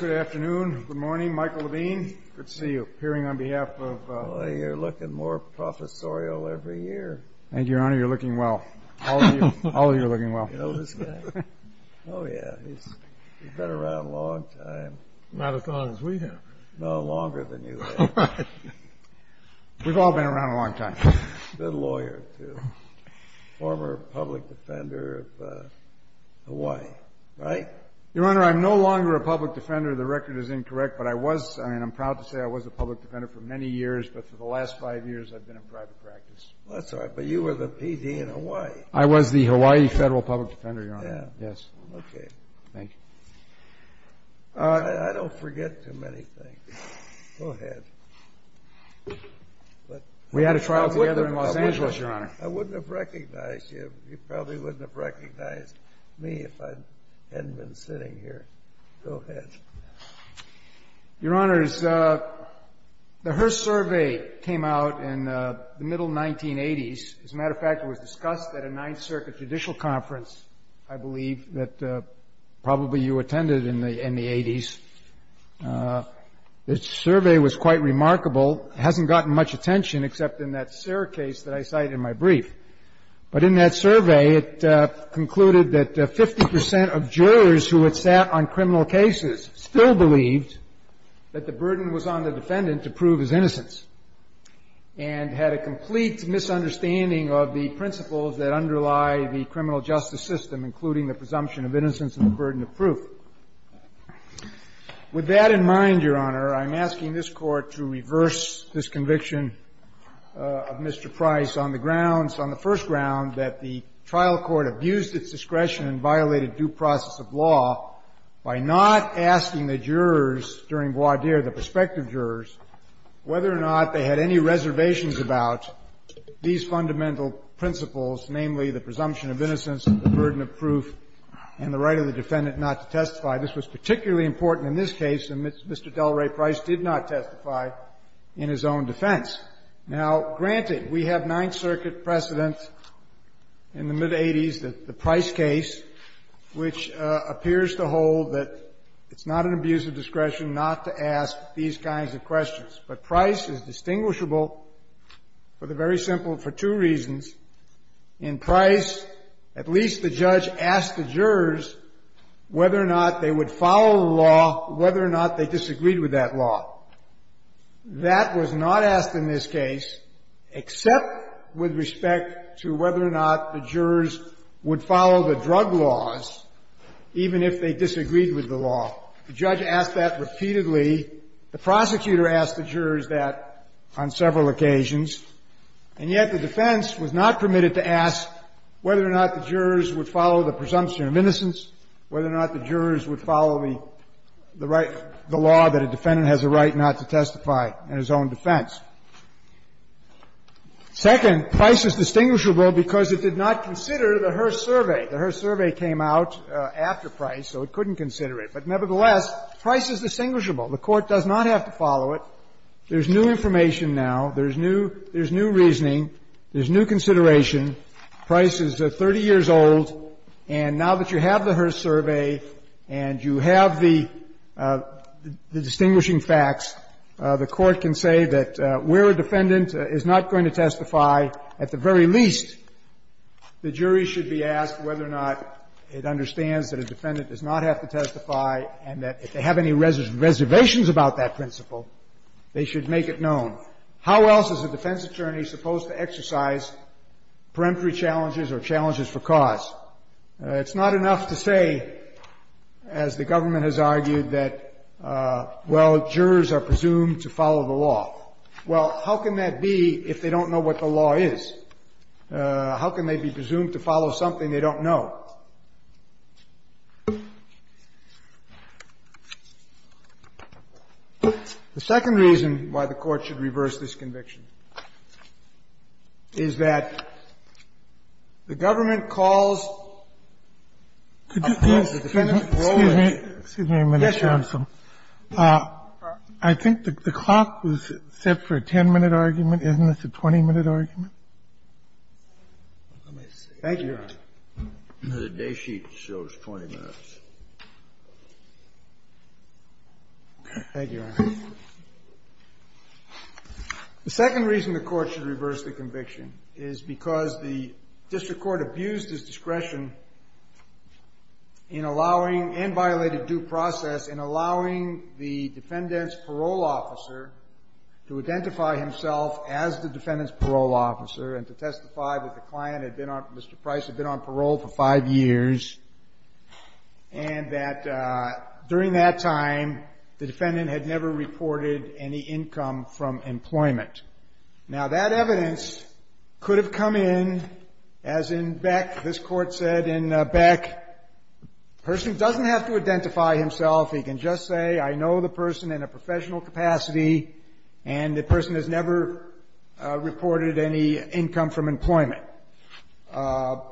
Good afternoon. Good morning. Michael Levine. Good to see you. Appearing on behalf of... Well, you're looking more professorial every year. Thank you, Your Honor. You're looking well. All of you are looking well. You know this guy? Oh, yeah. He's been around a long time. Not as long as we have. No, longer than you have. We've all been around a long time. Good lawyer, too. Former public defender of Hawaii, right? Your Honor, I'm no longer a public defender. The record is incorrect. But I was, I mean, I'm proud to say I was a public defender for many years. But for the last five years, I've been in private practice. That's all right. But you were the P.D. in Hawaii. I was the Hawaii Federal Public Defender, Your Honor. Yes. Okay. Thank you. I don't forget too many things. Go ahead. We had a trial together in Los Angeles, Your Honor. I wouldn't have recognized you. You probably wouldn't have recognized me if I hadn't been sitting here. Go ahead. Your Honor, the Hearst survey came out in the middle 1980s. As a matter of fact, it was discussed at a Ninth Circuit judicial conference, I believe, that probably you attended in the 80s. The survey was quite remarkable. It hasn't gotten much attention except in that Serra case that I cited in my brief. But in that survey, it concluded that 50 percent of jurors who had sat on criminal cases still believed that the burden was on the defendant to prove his innocence and had a complete misunderstanding of the principles that underlie the criminal justice system, including the presumption of innocence and the burden of proof. With that in mind, Your Honor, I'm asking this Court to reverse this conviction of Mr. Price on the grounds, on the first ground, that the trial court abused its discretion and violated due process of law by not asking the jurors during voir dire, the prospective jurors, whether or not they had any reservations about these fundamental principles, namely the presumption of innocence, the burden of proof, and the right of the defendant not to testify. This was particularly important in this case, and Mr. Delray Price did not testify in his own defense. Now, granted, we have Ninth Circuit precedent in the mid-'80s, the Price case, which appears to hold that it's not an abuse of discretion not to ask these kinds of questions. But Price is distinguishable for the very simple, for two reasons. In Price, at least the judge asked the jurors whether or not they would follow the law, whether or not they disagreed with that law. That was not asked in this case, except with respect to whether or not the jurors would follow the drug laws, even if they disagreed with the law. The judge asked that repeatedly. The prosecutor asked the jurors that on several occasions. And yet the defense was not permitted to ask whether or not the jurors would follow the presumption of innocence, whether or not the jurors would follow the right, the law that a defendant has a right not to testify in his own defense. Second, Price is distinguishable because it did not consider the Hearst survey. The Hearst survey came out after Price, so it couldn't consider it. But nevertheless, Price is distinguishable. The Court does not have to follow it. There's new information now. There's new reasoning. There's new consideration. Price is 30 years old. And now that you have the Hearst survey and you have the distinguishing facts, the Court can say that where a defendant is not going to testify, at the very least, the jury should be asked whether or not it understands that a defendant does not have to testify and that if they have any reservations about that principle, they should make it known. How else is a defense attorney supposed to exercise peremptory challenges or challenges for cause? It's not enough to say, as the government has argued, that, well, jurors are presumed to follow the law. Well, how can that be if they don't know what the law is? How can they be presumed to follow something they don't know? The second reason why the Court should reverse this conviction is that the government calls a defendant's role as a defense attorney. I think the clock was set for a 10-minute argument. Isn't this a 20-minute argument? Thank you, Your Honor. The day sheet shows 20 minutes. Thank you, Your Honor. The second reason the Court should reverse the conviction is because the district discretion in allowing and violated due process in allowing the defendant's parole officer to identify himself as the defendant's parole officer and to testify that the client, Mr. Price, had been on parole for five years and that during that time the defendant had never reported any income from employment. Now, that evidence could have come in as in Beck. This Court said in Beck, the person doesn't have to identify himself. He can just say, I know the person in a professional capacity and the person has never reported any income from employment. Doesn't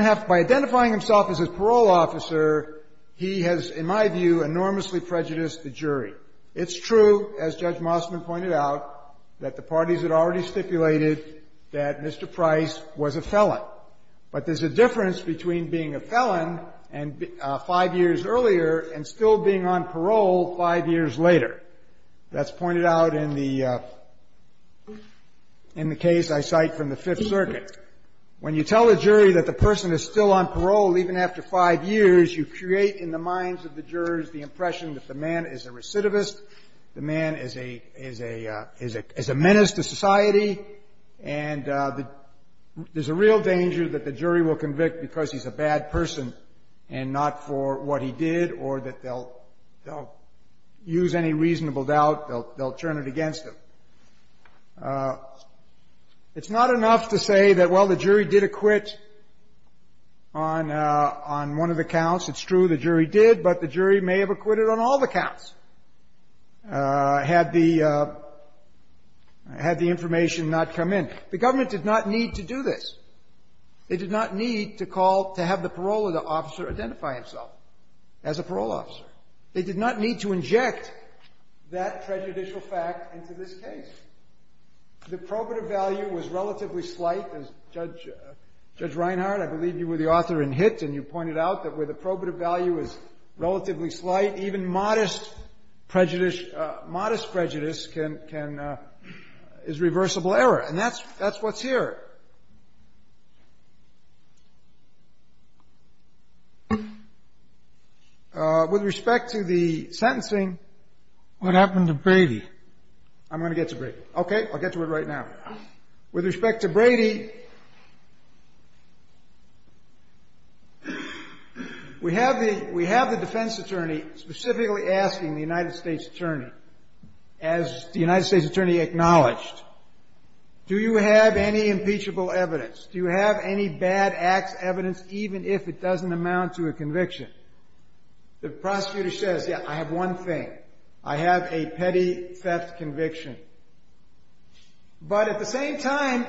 have to be identifying himself as his parole officer, he has, in my view, enormously prejudiced the jury. It's true, as Judge Mosman pointed out, that the parties had already stipulated that Mr. Price was a felon. But there's a difference between being a felon five years earlier and still being on parole five years later. That's pointed out in the case I cite from the Fifth Circuit. When you tell a jury that the person is still on parole even after five years, you create in the minds of the jurors the impression that the man is a recidivist, the man is a menace to society, and there's a real danger that the jury will convict because he's a bad person and not for what he did or that they'll use any reasonable doubt, they'll turn it against him. It's not enough to say that, well, the jury did acquit on one of the counts. It's true, the jury did, but the jury may have acquitted on all the counts had the information not come in. The government did not need to do this. They did not need to call to have the parole officer identify himself as a parole officer. They did not need to inject that prejudicial fact into this case. The probative value was relatively slight, as Judge Reinhart, I believe you were the slight. Even modest prejudice is reversible error, and that's what's here. With respect to the sentencing. What happened to Brady? I'm going to get to Brady. Okay, I'll get to it right now. With respect to Brady, we have the defense attorney specifically asking the United States attorney, as the United States attorney acknowledged, do you have any impeachable evidence? Do you have any bad acts evidence, even if it doesn't amount to a conviction? The prosecutor says, yeah, I have one thing. I have a petty theft conviction. But at the same time,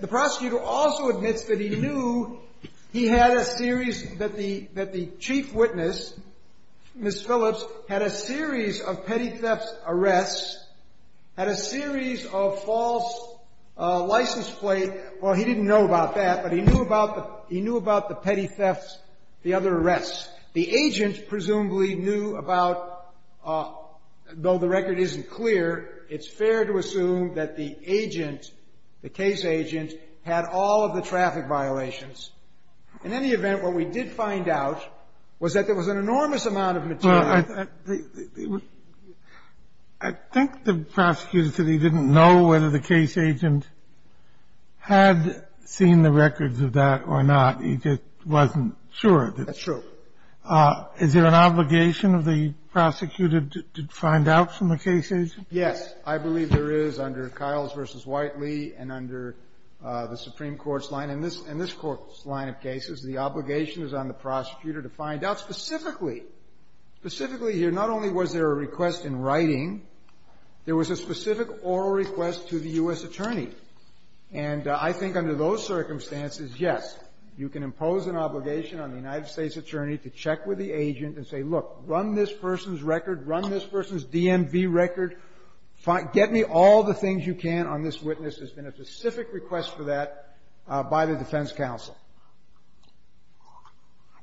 the prosecutor also admits that he knew he had a series that the chief witness, Ms. Phillips, had a series of petty thefts arrests, had a series of false license plates. Well, he didn't know about that, but he knew about the petty thefts, the other arrests. The agent presumably knew about, though the record isn't clear, it's fair to assume that the agent, the case agent, had all of the traffic violations. In any event, what we did find out was that there was an enormous amount of material Well, I think the prosecutor said he didn't know whether the case agent had seen the records of that or not. He just wasn't sure. That's true. Is there an obligation of the prosecutor to find out from the case agent? Yes. I believe there is under Kiles v. Whiteley and under the Supreme Court's line. In this Court's line of cases, the obligation is on the prosecutor to find out specifically, specifically here, not only was there a request in writing, there was a specific oral request to the U.S. attorney. And I think under those circumstances, yes, you can impose an obligation on the United States attorney to check with the agent and say, look, run this person's record, run this person's DMV record, get me all the things you can on this witness. There's been a specific request for that by the defense counsel.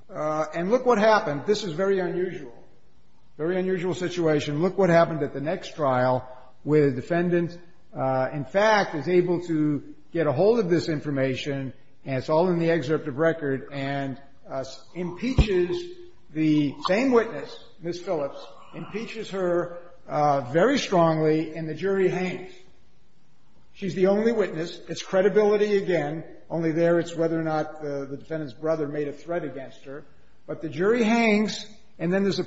And look what happened. This is very unusual, very unusual situation. Look what happened at the next trial where the defendant, in fact, is able to get a hold of this information, and it's all in the excerpt of record, and impeaches the same witness, Ms. Phillips, impeaches her very strongly, and the jury hangs. She's the only witness. It's credibility again. Only there it's whether or not the defendant's brother made a threat against her. But the jury hangs, and then there's a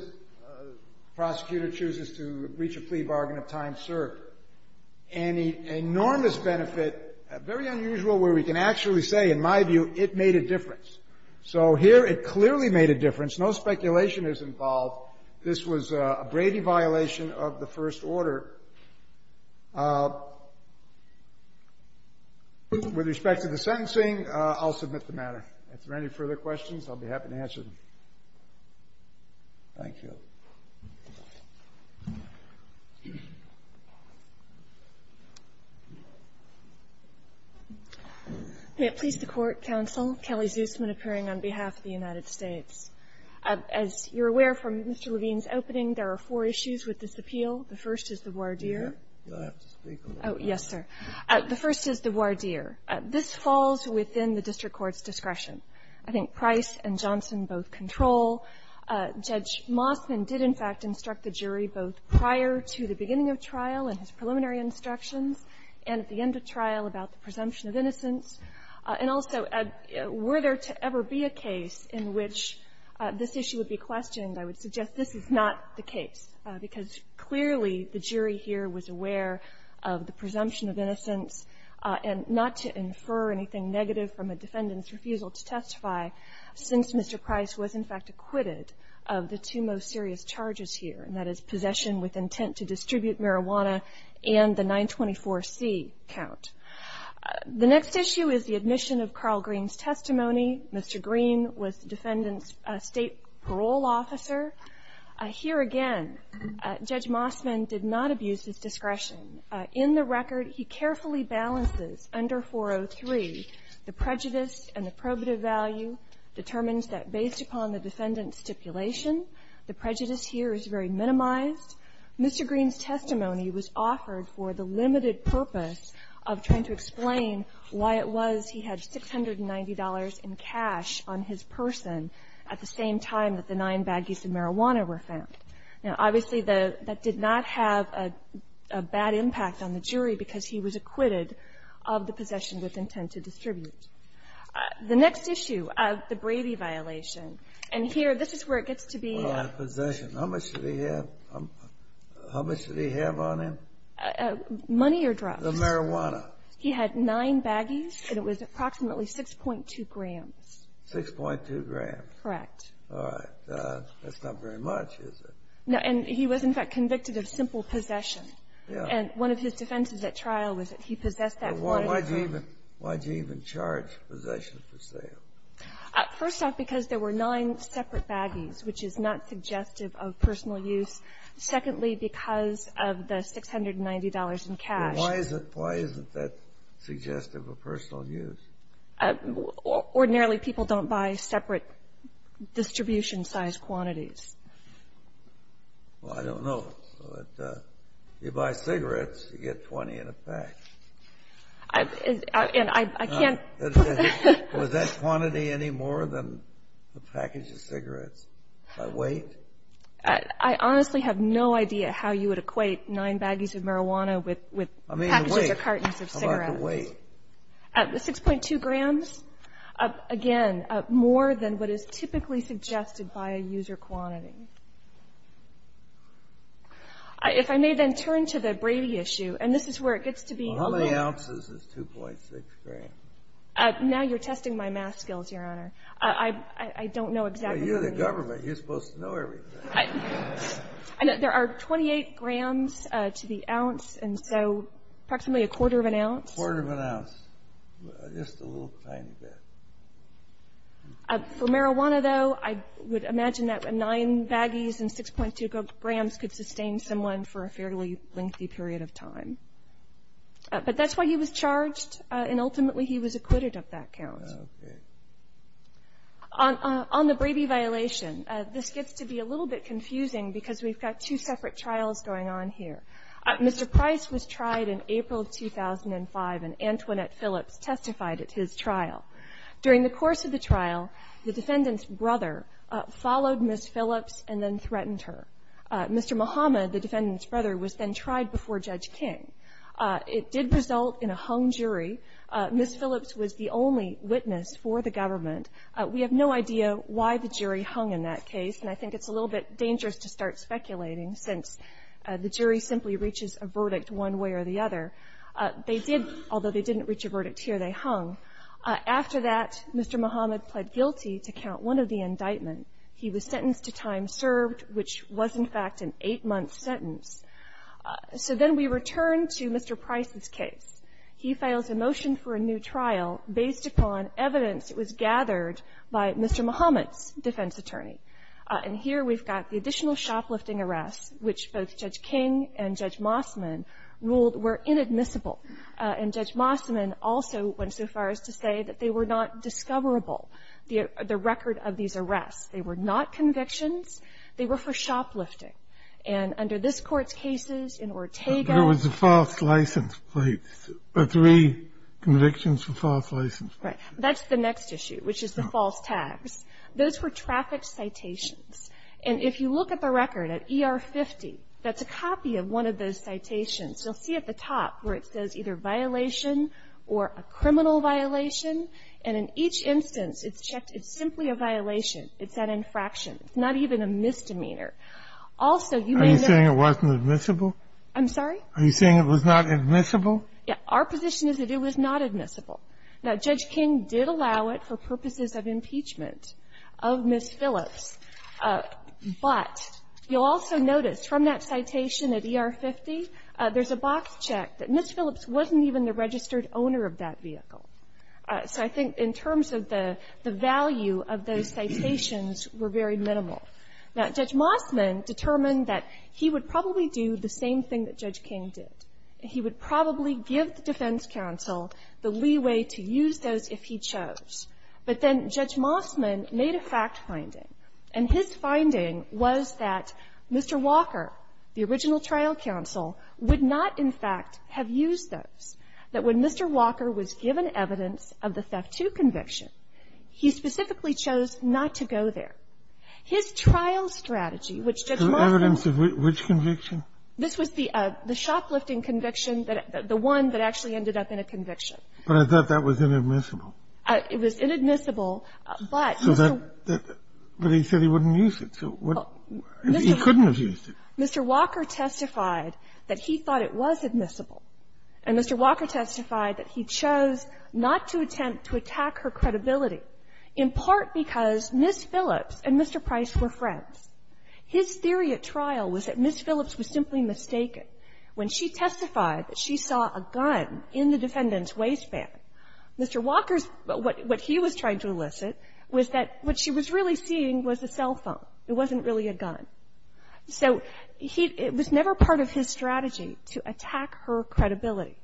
prosecutor chooses to reach a plea bargain of time served. And the enormous benefit, very unusual where we can actually say, in my view, it made a difference. So here it clearly made a difference. No speculation is involved. This was a Brady violation of the first order. With respect to the sentencing, I'll submit the matter. If there are any further questions, I'll be happy to answer them. Thank you. Please. The court counsel, Kelly Zusman, appearing on behalf of the United States. As you're aware from Mr. Levine's opening, there are four issues with this appeal. The first is the voir dire. Do I have to speak? Oh, yes, sir. The first is the voir dire. This falls within the district court's discretion. I think Price and Johnson both control. Judge Mossman did, in fact, instruct the jury both prior to the beginning of trial in his preliminary instructions and at the end of trial about the presumption of innocence. And also, were there to ever be a case in which this issue would be questioned, I would suggest this is not the case, because clearly the jury here was aware of the need to infer anything negative from a defendant's refusal to testify, since Mr. Price was, in fact, acquitted of the two most serious charges here, and that is possession with intent to distribute marijuana and the 924C count. The next issue is the admission of Carl Green's testimony. Mr. Green was the defendant's state parole officer. Here again, Judge Mossman did not abuse his discretion. In the record, he carefully balances under 403 the prejudice and the probative value, determines that based upon the defendant's stipulation, the prejudice here is very minimized. Mr. Green's testimony was offered for the limited purpose of trying to explain why it was he had $690 in cash on his person at the same time that the nine baggies of marijuana were found. Now, obviously, that did not have a bad impact on the jury, because he was acquitted of the possession with intent to distribute. The next issue, the Brady violation. And here, this is where it gets to be. Possession. How much did he have? How much did he have on him? Money or drugs. The marijuana. He had nine baggies, and it was approximately 6.2 grams. 6.2 grams. Correct. All right. That's not very much, is it? No. And he was, in fact, convicted of simple possession. Yeah. And one of his defenses at trial was that he possessed that quantity of drugs. Why did you even charge possession for sale? First off, because there were nine separate baggies, which is not suggestive of personal use. Secondly, because of the $690 in cash. Why is it that's suggestive of personal use? Ordinarily, people don't buy separate distribution-size quantities. Well, I don't know. You buy cigarettes, you get 20 in a pack. And I can't. Was that quantity any more than the package of cigarettes by weight? I honestly have no idea how you would equate nine baggies of marijuana with packages or cartons of cigarettes. I mean weight. 6.2 grams. Again, more than what is typically suggested by a user quantity. If I may then turn to the Brady issue, and this is where it gets to be a little — Well, how many ounces is 2.6 grams? Now you're testing my math skills, Your Honor. I don't know exactly — Well, you're the government. You're supposed to know everything. There are 28 grams to the ounce, and so approximately a quarter of an ounce. Just a little tiny bit. For marijuana, though, I would imagine that nine baggies and 6.2 grams could sustain someone for a fairly lengthy period of time. But that's why he was charged, and ultimately he was acquitted of that count. Okay. On the Brady violation, this gets to be a little bit confusing because we've got two separate trials going on here. Mr. Price was tried in April of 2005, and Antoinette Phillips testified at his trial. During the course of the trial, the defendant's brother followed Ms. Phillips and then threatened her. Mr. Muhammad, the defendant's brother, was then tried before Judge King. It did result in a hung jury. Ms. Phillips was the only witness for the government. We have no idea why the jury hung in that case, and I think it's a little bit dangerous to start speculating since the jury simply reaches a verdict one way or the other. They did, although they didn't reach a verdict here, they hung. After that, Mr. Muhammad pled guilty to count one of the indictments. He was sentenced to time served, which was, in fact, an eight-month sentence. So then we return to Mr. Price's case. He files a motion for a new trial based upon evidence that was gathered by Mr. Muhammad's defense attorney. And here we've got the additional shoplifting arrests, which both Judge King and Judge Mossman ruled were inadmissible. And Judge Mossman also went so far as to say that they were not discoverable, the record of these arrests. They were not convictions. They were for shoplifting. And under this Court's cases in Ortega ---- There was a false license plate, three convictions for false license plates. Right. That's the next issue, which is the false tags. Those were traffic citations. And if you look at the record at ER 50, that's a copy of one of those citations. You'll see at the top where it says either violation or a criminal violation. And in each instance, it's checked it's simply a violation. It's an infraction. It's not even a misdemeanor. Also, you may know ---- Are you saying it wasn't admissible? I'm sorry? Are you saying it was not admissible? Our position is that it was not admissible. Now, Judge King did allow it for purposes of impeachment of Ms. Phillips. But you'll also notice from that citation at ER 50, there's a box check that Ms. Phillips wasn't even the registered owner of that vehicle. So I think in terms of the value of those citations were very minimal. Now, Judge Mossman determined that he would probably do the same thing that Judge King did. He would probably give the defense counsel the leeway to use those if he chose. But then Judge Mossman made a fact finding. And his finding was that Mr. Walker, the original trial counsel, would not, in fact, have used those, that when Mr. Walker was given evidence of the theft II conviction, he specifically chose not to go there. His trial strategy, which Judge Mossman ---- Evidence of which conviction? This was the shoplifting conviction, the one that actually ended up in a conviction. But I thought that was inadmissible. It was inadmissible, but Mr. ---- But he said he wouldn't use it. He couldn't have used it. Mr. Walker testified that he thought it was admissible. And Mr. Walker testified that he chose not to attempt to attack her credibility in part because Ms. Phillips and Mr. Price were friends. His theory at trial was that Ms. Phillips was simply mistaken when she testified that she saw a gun in the defendant's waistband. Mr. Walker's ---- what he was trying to elicit was that what she was really seeing was a cell phone. It wasn't really a gun. So he ---- it was never part of his strategy to attack her credibility.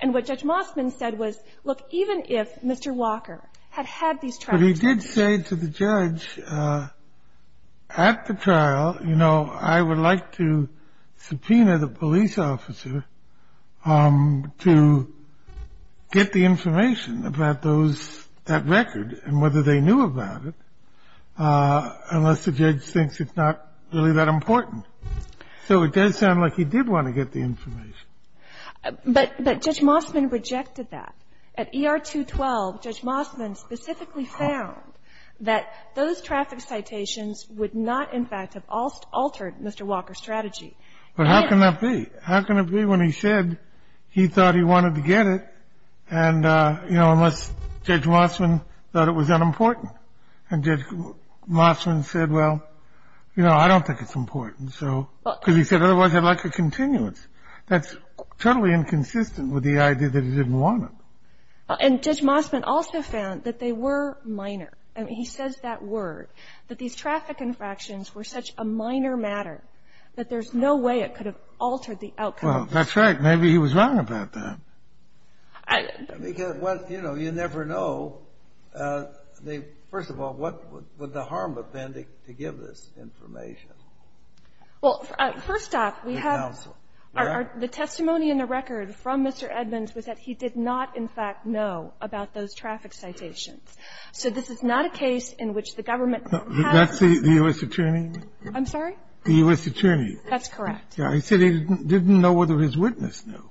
And what Judge Mossman said was, look, even if Mr. Walker had had these ---- But he did say to the judge at the trial, you know, I would like to subpoena the police officer to get the information about those ---- that record and whether they knew about it unless the judge thinks it's not really that important. So it does sound like he did want to get the information. But Judge Mossman rejected that. At ER-212, Judge Mossman specifically found that those traffic citations would not, in fact, have altered Mr. Walker's strategy. And ---- But how can that be? How can it be when he said he thought he wanted to get it and, you know, unless Judge Mossman thought it was unimportant? And Judge Mossman said, well, you know, I don't think it's important. So ---- Because he said, otherwise, I'd like a continuance. That's totally inconsistent with the idea that he didn't want it. And Judge Mossman also found that they were minor. I mean, he says that word, that these traffic infractions were such a minor matter that there's no way it could have altered the outcome. Well, that's right. Maybe he was wrong about that. Because, you know, you never know. First of all, what would the harm have been to give this information? Well, first off, we have ---- The testimony in the record from Mr. Edmonds was that he did not, in fact, know about those traffic citations. So this is not a case in which the government has ---- That's the U.S. attorney? I'm sorry? The U.S. attorney. That's correct. He said he didn't know whether his witness knew.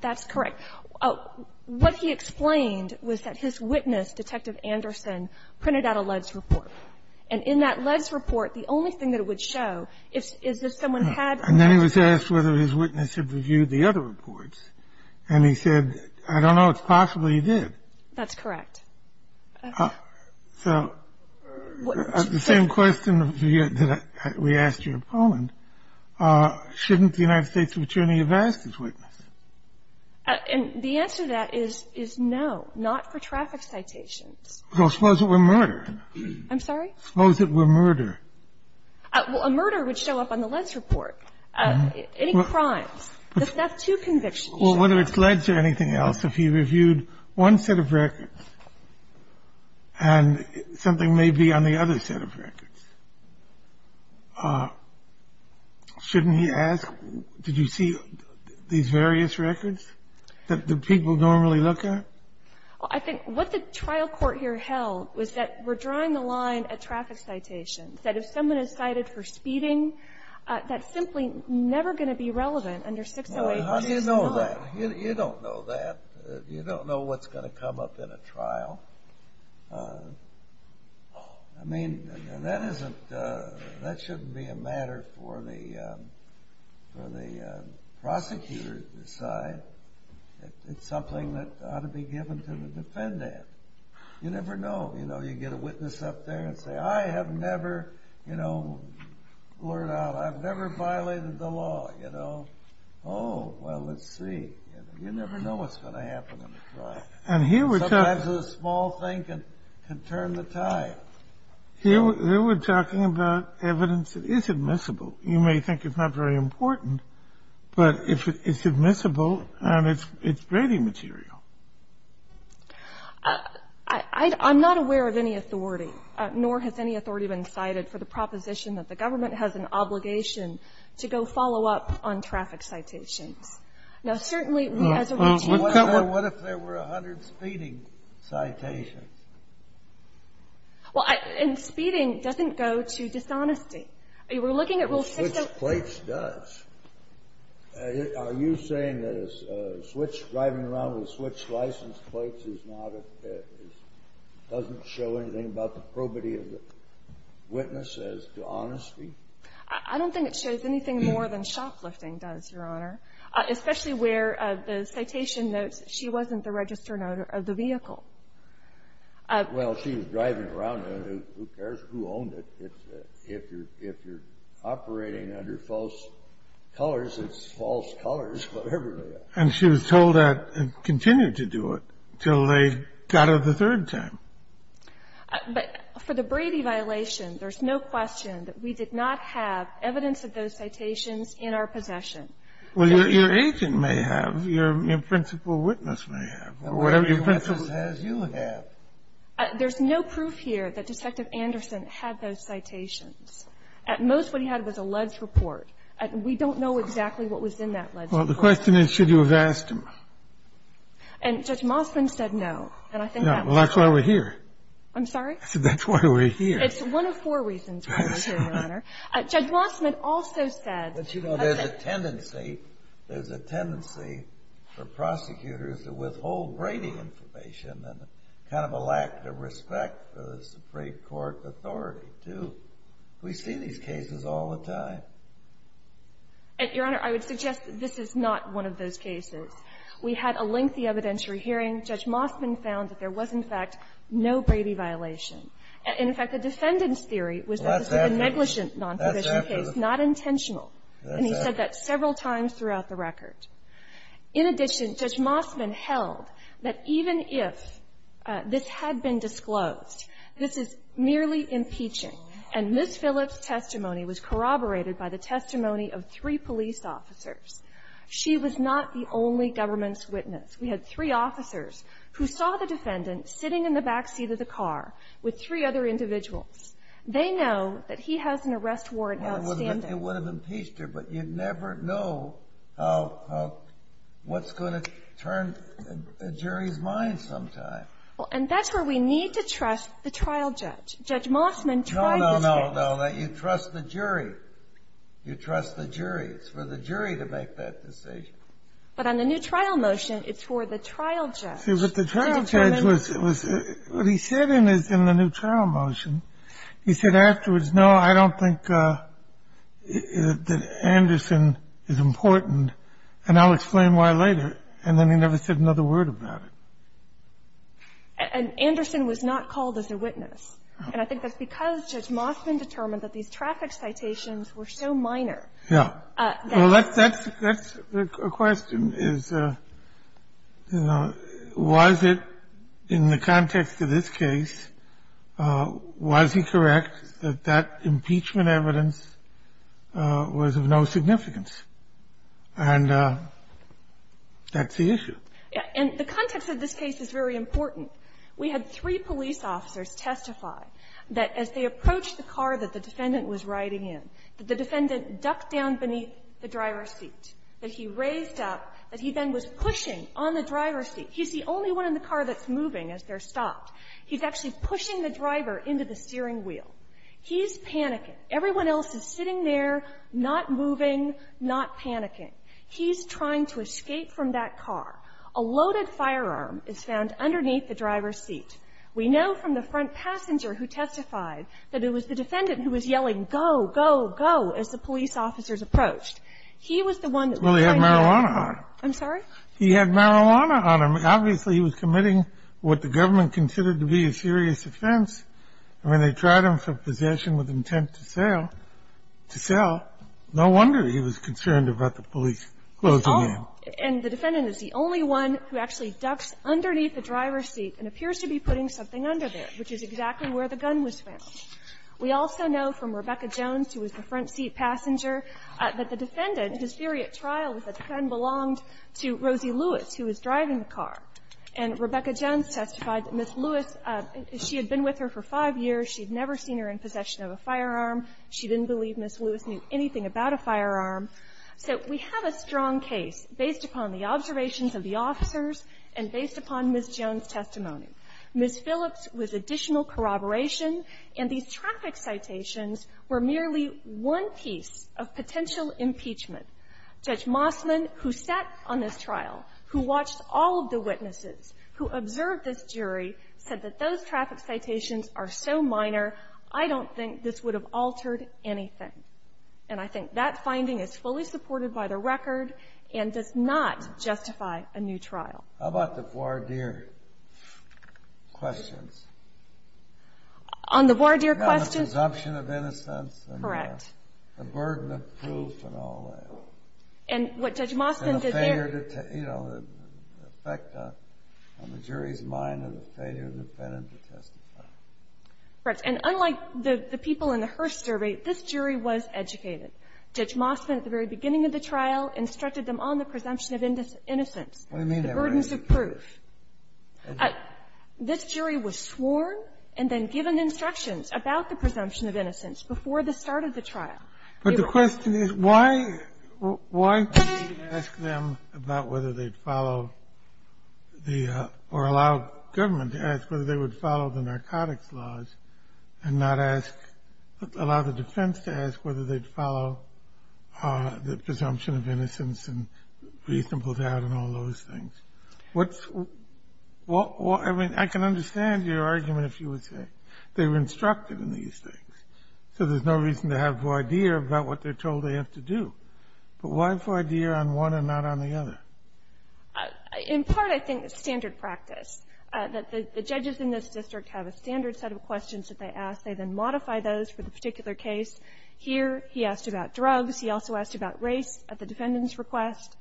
That's correct. What he explained was that his witness, Detective Anderson, printed out a LEDS report. And in that LEDS report, the only thing that it would show is if someone had ---- And then he was asked whether his witness had reviewed the other reports. And he said, I don't know. It's possible he did. That's correct. So the same question that we asked you in Poland, shouldn't the United States attorney have asked his witness? And the answer to that is no, not for traffic citations. Well, suppose it were murder. I'm sorry? Suppose it were murder. Well, a murder would show up on the LEDS report. Any crimes. The theft to conviction. Well, whether it's LEDS or anything else, if he reviewed one set of records and something may be on the other set of records, shouldn't he ask, did you see these various records that the people normally look at? I think what the trial court here held was that we're drawing the line at traffic citations, that if someone is cited for speeding, that's simply never going to be relevant under 608. How do you know that? You don't know that. You don't know what's going to come up in a trial. I mean, that shouldn't be a matter for the prosecutor to decide. It's something that ought to be given to the defendant. You never know. You know, you get a witness up there and say, I have never, you know, blurred out. I've never violated the law, you know. Oh, well, let's see. You never know what's going to happen in a trial. Sometimes a small thing can turn the tide. Here we're talking about evidence that is admissible. You may think it's not very important, but it's admissible and it's grading material. I'm not aware of any authority, nor has any authority been cited for the proposition that the government has an obligation to go follow up on traffic citations. Now, certainly, as a routine court ---- Well, what if there were 100 speeding citations? Well, and speeding doesn't go to dishonesty. We're looking at Rule 6. Well, switch place does. Are you saying that a switch, driving around with a switch license place is not a ---- doesn't show anything about the probity of the witness as to honesty? I don't think it shows anything more than shoplifting does, Your Honor, especially where the citation notes she wasn't the registered owner of the vehicle. Well, she was driving around. Who cares who owned it? If you're operating under false colors, it's false colors, whatever they are. And she was told that and continued to do it until they got her the third time. But for the Brady violation, there's no question that we did not have evidence of those citations in our possession. Well, your agent may have. Your principal witness may have. Whatever your principal witness has, you would have. There's no proof here that Detective Anderson had those citations. At most, what he had was a ledge report. We don't know exactly what was in that ledge report. Well, the question is should you have asked him. And Judge Mossman said no. Well, that's why we're here. I'm sorry? I said that's why we're here. It's one of four reasons why we're here, Your Honor. Judge Mossman also said ---- But, you know, there's a tendency for prosecutors to withhold Brady information and kind of a lack of respect for the Supreme Court authority, too. We see these cases all the time. Your Honor, I would suggest that this is not one of those cases. We had a lengthy evidentiary hearing. Judge Mossman found that there was, in fact, no Brady violation. And, in fact, the defendant's theory was that this was a negligent non-provisional case, not intentional. And he said that several times throughout the record. In addition, Judge Mossman held that even if this had been disclosed, this is merely impeaching. And Ms. Phillips' testimony was corroborated by the testimony of three police officers. She was not the only government's witness. We had three officers who saw the defendant sitting in the backseat of the car with three other individuals. They know that he has an arrest warrant outstanding. It would have impeached her, but you never know what's going to turn a jury's mind sometime. Well, and that's where we need to trust the trial judge. Judge Mossman tried this case. No, no, no, no. You trust the jury. You trust the jury. It's for the jury to make that decision. But on the new trial motion, it's for the trial judge. See, but the trial judge was ---- What he said in the new trial motion, he said afterwards, no, I don't think that Anderson is important, and I'll explain why later. And then he never said another word about it. And Anderson was not called as a witness. And I think that's because Judge Mossman determined that these traffic citations were so minor that ---- Yeah. Well, that's the question is, you know, was it in the context of this case, was he correct that that impeachment evidence was of no significance? And that's the issue. Yeah. And the context of this case is very important. We had three police officers testify that as they approached the car that the defendant was riding in, that the defendant ducked down beneath the driver's seat, that he raised up, that he then was pushing on the driver's seat. He's the only one in the car that's moving as they're stopped. He's actually pushing the driver into the steering wheel. He's panicking. Everyone else is sitting there, not moving, not panicking. He's trying to escape from that car. A loaded firearm is found underneath the driver's seat. We know from the front passenger who testified that it was the defendant who was yelling, go, go, go, as the police officers approached. He was the one that was trying to ---- Well, he had marijuana on him. I'm sorry? He had marijuana on him. Obviously, he was committing what the government considered to be a serious offense. And when they tried him for possession with intent to sell, no wonder he was concerned about the police closing in. Oh, and the defendant is the only one who actually ducks underneath the driver's seat and appears to be putting something under there, which is exactly where the gun was found. We also know from Rebecca Jones, who was the front seat passenger, that the defendant, whose theory at trial was that the gun belonged to Rosie Lewis, who was driving the car. And Rebecca Jones testified that Ms. Lewis, she had been with her for five years. She had never seen her in possession of a firearm. She didn't believe Ms. Lewis knew anything about a firearm. So we have a strong case based upon the observations of the officers and based upon Ms. Jones' testimony. Ms. Phillips was additional corroboration, and these traffic citations were merely one piece of potential impeachment. Judge Mossman, who sat on this trial, who watched all of the witnesses, who observed this jury, said that those traffic citations are so minor, I don't think this would have altered anything. And I think that finding is fully supported by the record and does not justify a new trial. How about the voir dire questions? On the voir dire questions? On the presumption of innocence and the burden of proof and all that. And what Judge Mossman did there? You know, the effect on the jury's mind of the failure of the defendant to testify. Correct. And unlike the people in the Hearst survey, this jury was educated. Judge Mossman, at the very beginning of the trial, instructed them on the presumption of innocence. What do you mean they were educated? The burdens of proof. This jury was sworn and then given instructions about the presumption of innocence before the start of the trial. But the question is, why do you ask them about whether they'd follow the or allow government to ask whether they would follow the narcotics laws and not ask, allow the defense to ask whether they'd follow the presumption of innocence and reasonable doubt and all those things? I mean, I can understand your argument, if you would say. They were instructed in these things. So there's no reason to have voir dire about what they're told they have to do. But why voir dire on one and not on the other? In part, I think it's standard practice. The judges in this district have a standard set of questions that they ask. They then modify those for the particular case. Here, he asked about drugs. He also asked about race at the defendant's request.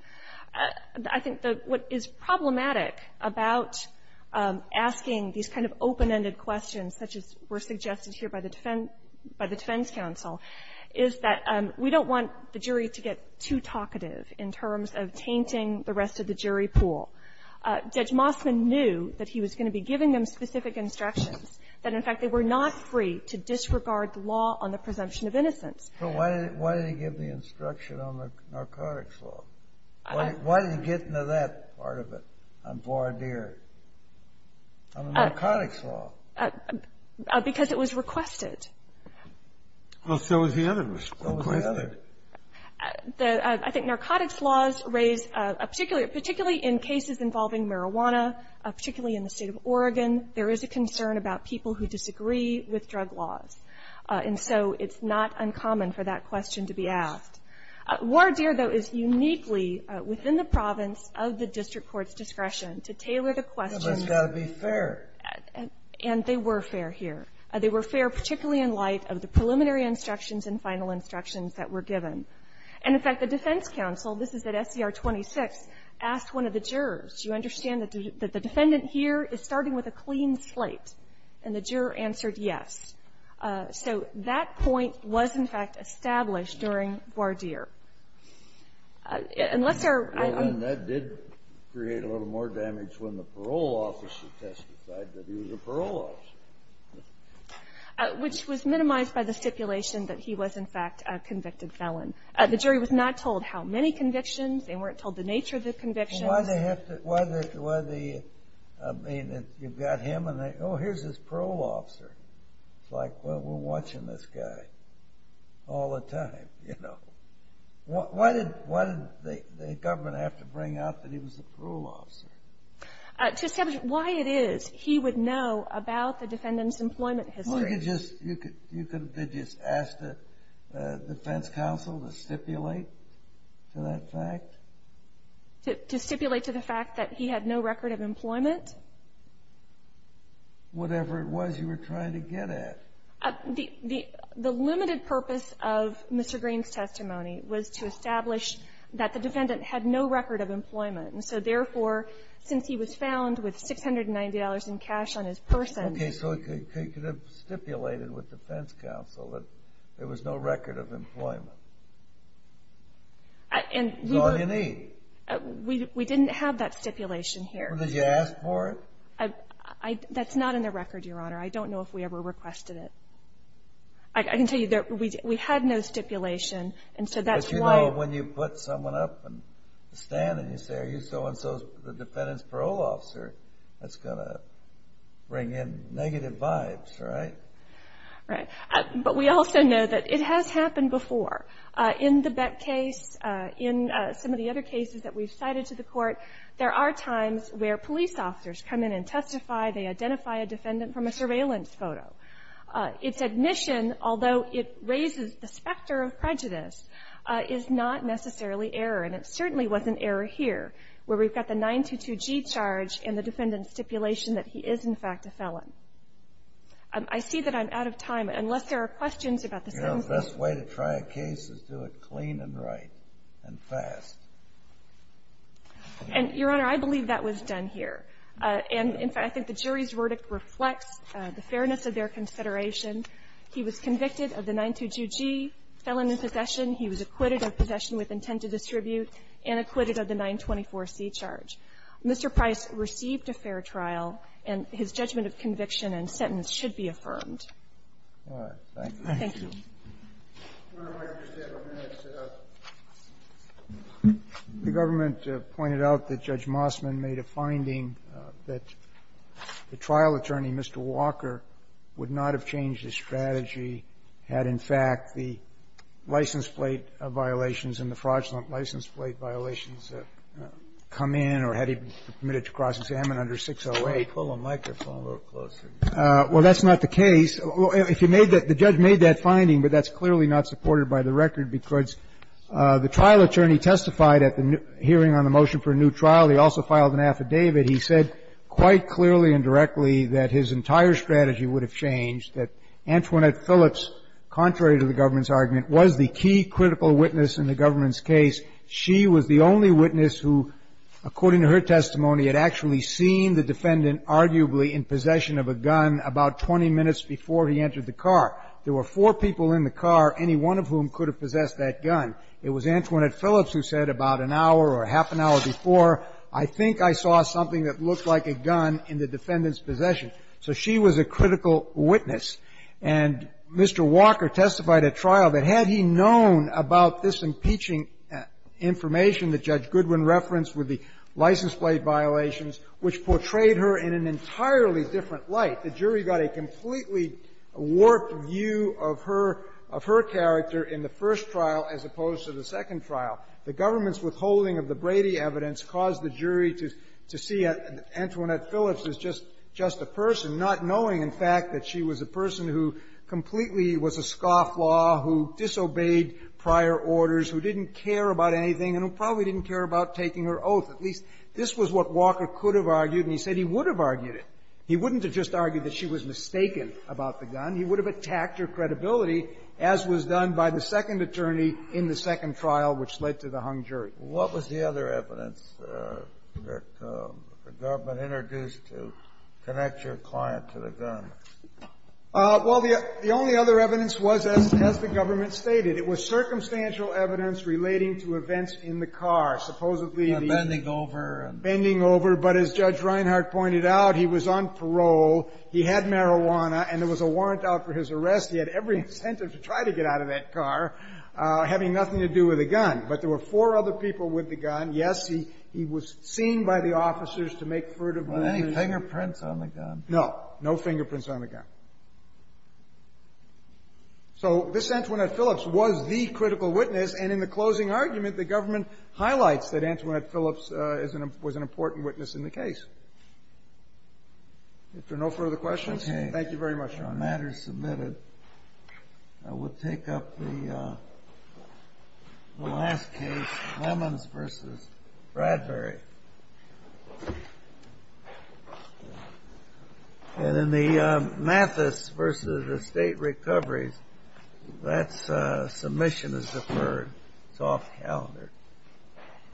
I think that what is problematic about asking these kind of open-ended questions such as were suggested here by the defense counsel is that we don't want the jury to get too talkative in terms of tainting the rest of the jury pool. Judge Mossman knew that he was going to be giving them specific instructions, that in fact they were not free to disregard the law on the presumption of innocence. But why did he give the instruction on the narcotics law? Why did he get into that part of it, on voir dire, on the narcotics law? Because it was requested. Well, so was the other. So was the other. I think narcotics laws raise, particularly in cases involving marijuana, particularly in the state of Oregon, there is a concern about people who disagree with drug laws. And so it's not uncommon for that question to be asked. Voir dire, though, is uniquely within the province of the district court's discretion to tailor the questions. But it's got to be fair. And they were fair here. They were fair particularly in light of the preliminary instructions and final instructions that were given. And in fact, the defense counsel, this is at SCR 26, asked one of the jurors, do you understand that the defendant here is starting with a clean slate? And the juror answered yes. So that point was, in fact, established during voir dire. And that did create a little more damage when the parole officer testified that he was a parole officer. Which was minimized by the stipulation that he was, in fact, a convicted felon. The jury was not told how many convictions. They weren't told the nature of the convictions. Well, why did they have to, I mean, you've got him and, oh, here's this parole officer. It's like, well, we're watching this guy all the time, you know. Why did the government have to bring out that he was a parole officer? To establish why it is he would know about the defendant's employment history. You could have just asked the defense counsel to stipulate to that fact? To stipulate to the fact that he had no record of employment? Whatever it was you were trying to get at. The limited purpose of Mr. Green's testimony was to establish that the defendant had no record of employment. And so, therefore, since he was found with $690 in cash on his person. Okay. So it could have stipulated with defense counsel that there was no record of employment. That's all you need. We didn't have that stipulation here. Well, did you ask for it? That's not in the record, Your Honor. I don't know if we ever requested it. I can tell you that we had no stipulation, and so that's why. But you know when you put someone up and stand and you say, are you so-and-so the defendant's parole officer, that's going to bring in negative vibes, right? Right. But we also know that it has happened before. In the Bett case, in some of the other cases that we've cited to the Court, there are times where police officers come in and testify. They identify a defendant from a surveillance photo. Its admission, although it raises the specter of prejudice, is not necessarily error, and it certainly wasn't error here where we've got the 922G charge and the defendant's stipulation that he is, in fact, a felon. I see that I'm out of time, unless there are questions about the sentence. You know, the best way to try a case is do it clean and right and fast. And, Your Honor, I believe that was done here. And, in fact, I think the jury's verdict reflects the fairness of their consideration. He was convicted of the 922G, felon in possession. He was acquitted of possession with intent to distribute and acquitted of the 924C charge. Mr. Price received a fair trial, and his judgment of conviction and sentence should be affirmed. Thank you. The government pointed out that Judge Mossman made a finding that the trial attorney, Mr. Walker, would not have changed his strategy had, in fact, the license plate violations come in or had he been permitted to cross-examine under 608. Well, that's not the case. If you made that the judge made that finding, but that's clearly not supported by the record, because the trial attorney testified at the hearing on the motion for a new trial. He also filed an affidavit. He said quite clearly and directly that his entire strategy would have changed, that Antoinette Phillips, contrary to the government's argument, was the key critical witness in the government's case. She was the only witness who, according to her testimony, had actually seen the defendant arguably in possession of a gun about 20 minutes before he entered the car. There were four people in the car, any one of whom could have possessed that gun. It was Antoinette Phillips who said about an hour or half an hour before, I think I saw something that looked like a gun in the defendant's possession. So she was a critical witness. And Mr. Walker testified at trial that had he known about this impeaching information that Judge Goodwin referenced with the license plate violations, which portrayed her in an entirely different light, the jury got a completely warped view of her character in the first trial as opposed to the second trial. The government's withholding of the Brady evidence caused the jury to see Antoinette Phillips as just a person, not knowing, in fact, that she was a person who completely was a scofflaw, who disobeyed prior orders, who didn't care about anything, and who probably didn't care about taking her oath. At least this was what Walker could have argued, and he said he would have argued it. He wouldn't have just argued that she was mistaken about the gun. He would have attacked her credibility, as was done by the second attorney in the second trial, which led to the hung jury. What was the other evidence that the government introduced to connect your client to the gun? Well, the only other evidence was, as the government stated, it was circumstantial evidence relating to events in the car, supposedly the bending over. Bending over. But as Judge Reinhart pointed out, he was on parole. He had marijuana, and there was a warrant out for his arrest. He had every incentive to try to get out of that car, having nothing to do with the gun. But there were four other people with the gun. Yes, he was seen by the officers to make further moves. Were there any fingerprints on the gun? No. No fingerprints on the gun. So this Antoinette Phillips was the critical witness, and in the closing argument, the government highlights that Antoinette Phillips was an important witness in the case. If there are no further questions, thank you very much, Your Honor. On matters submitted, I will take up the last case, Lemons v. Bradbury. And in the Mathis v. Estate Recoveries, that submission is deferred. It's off calendar.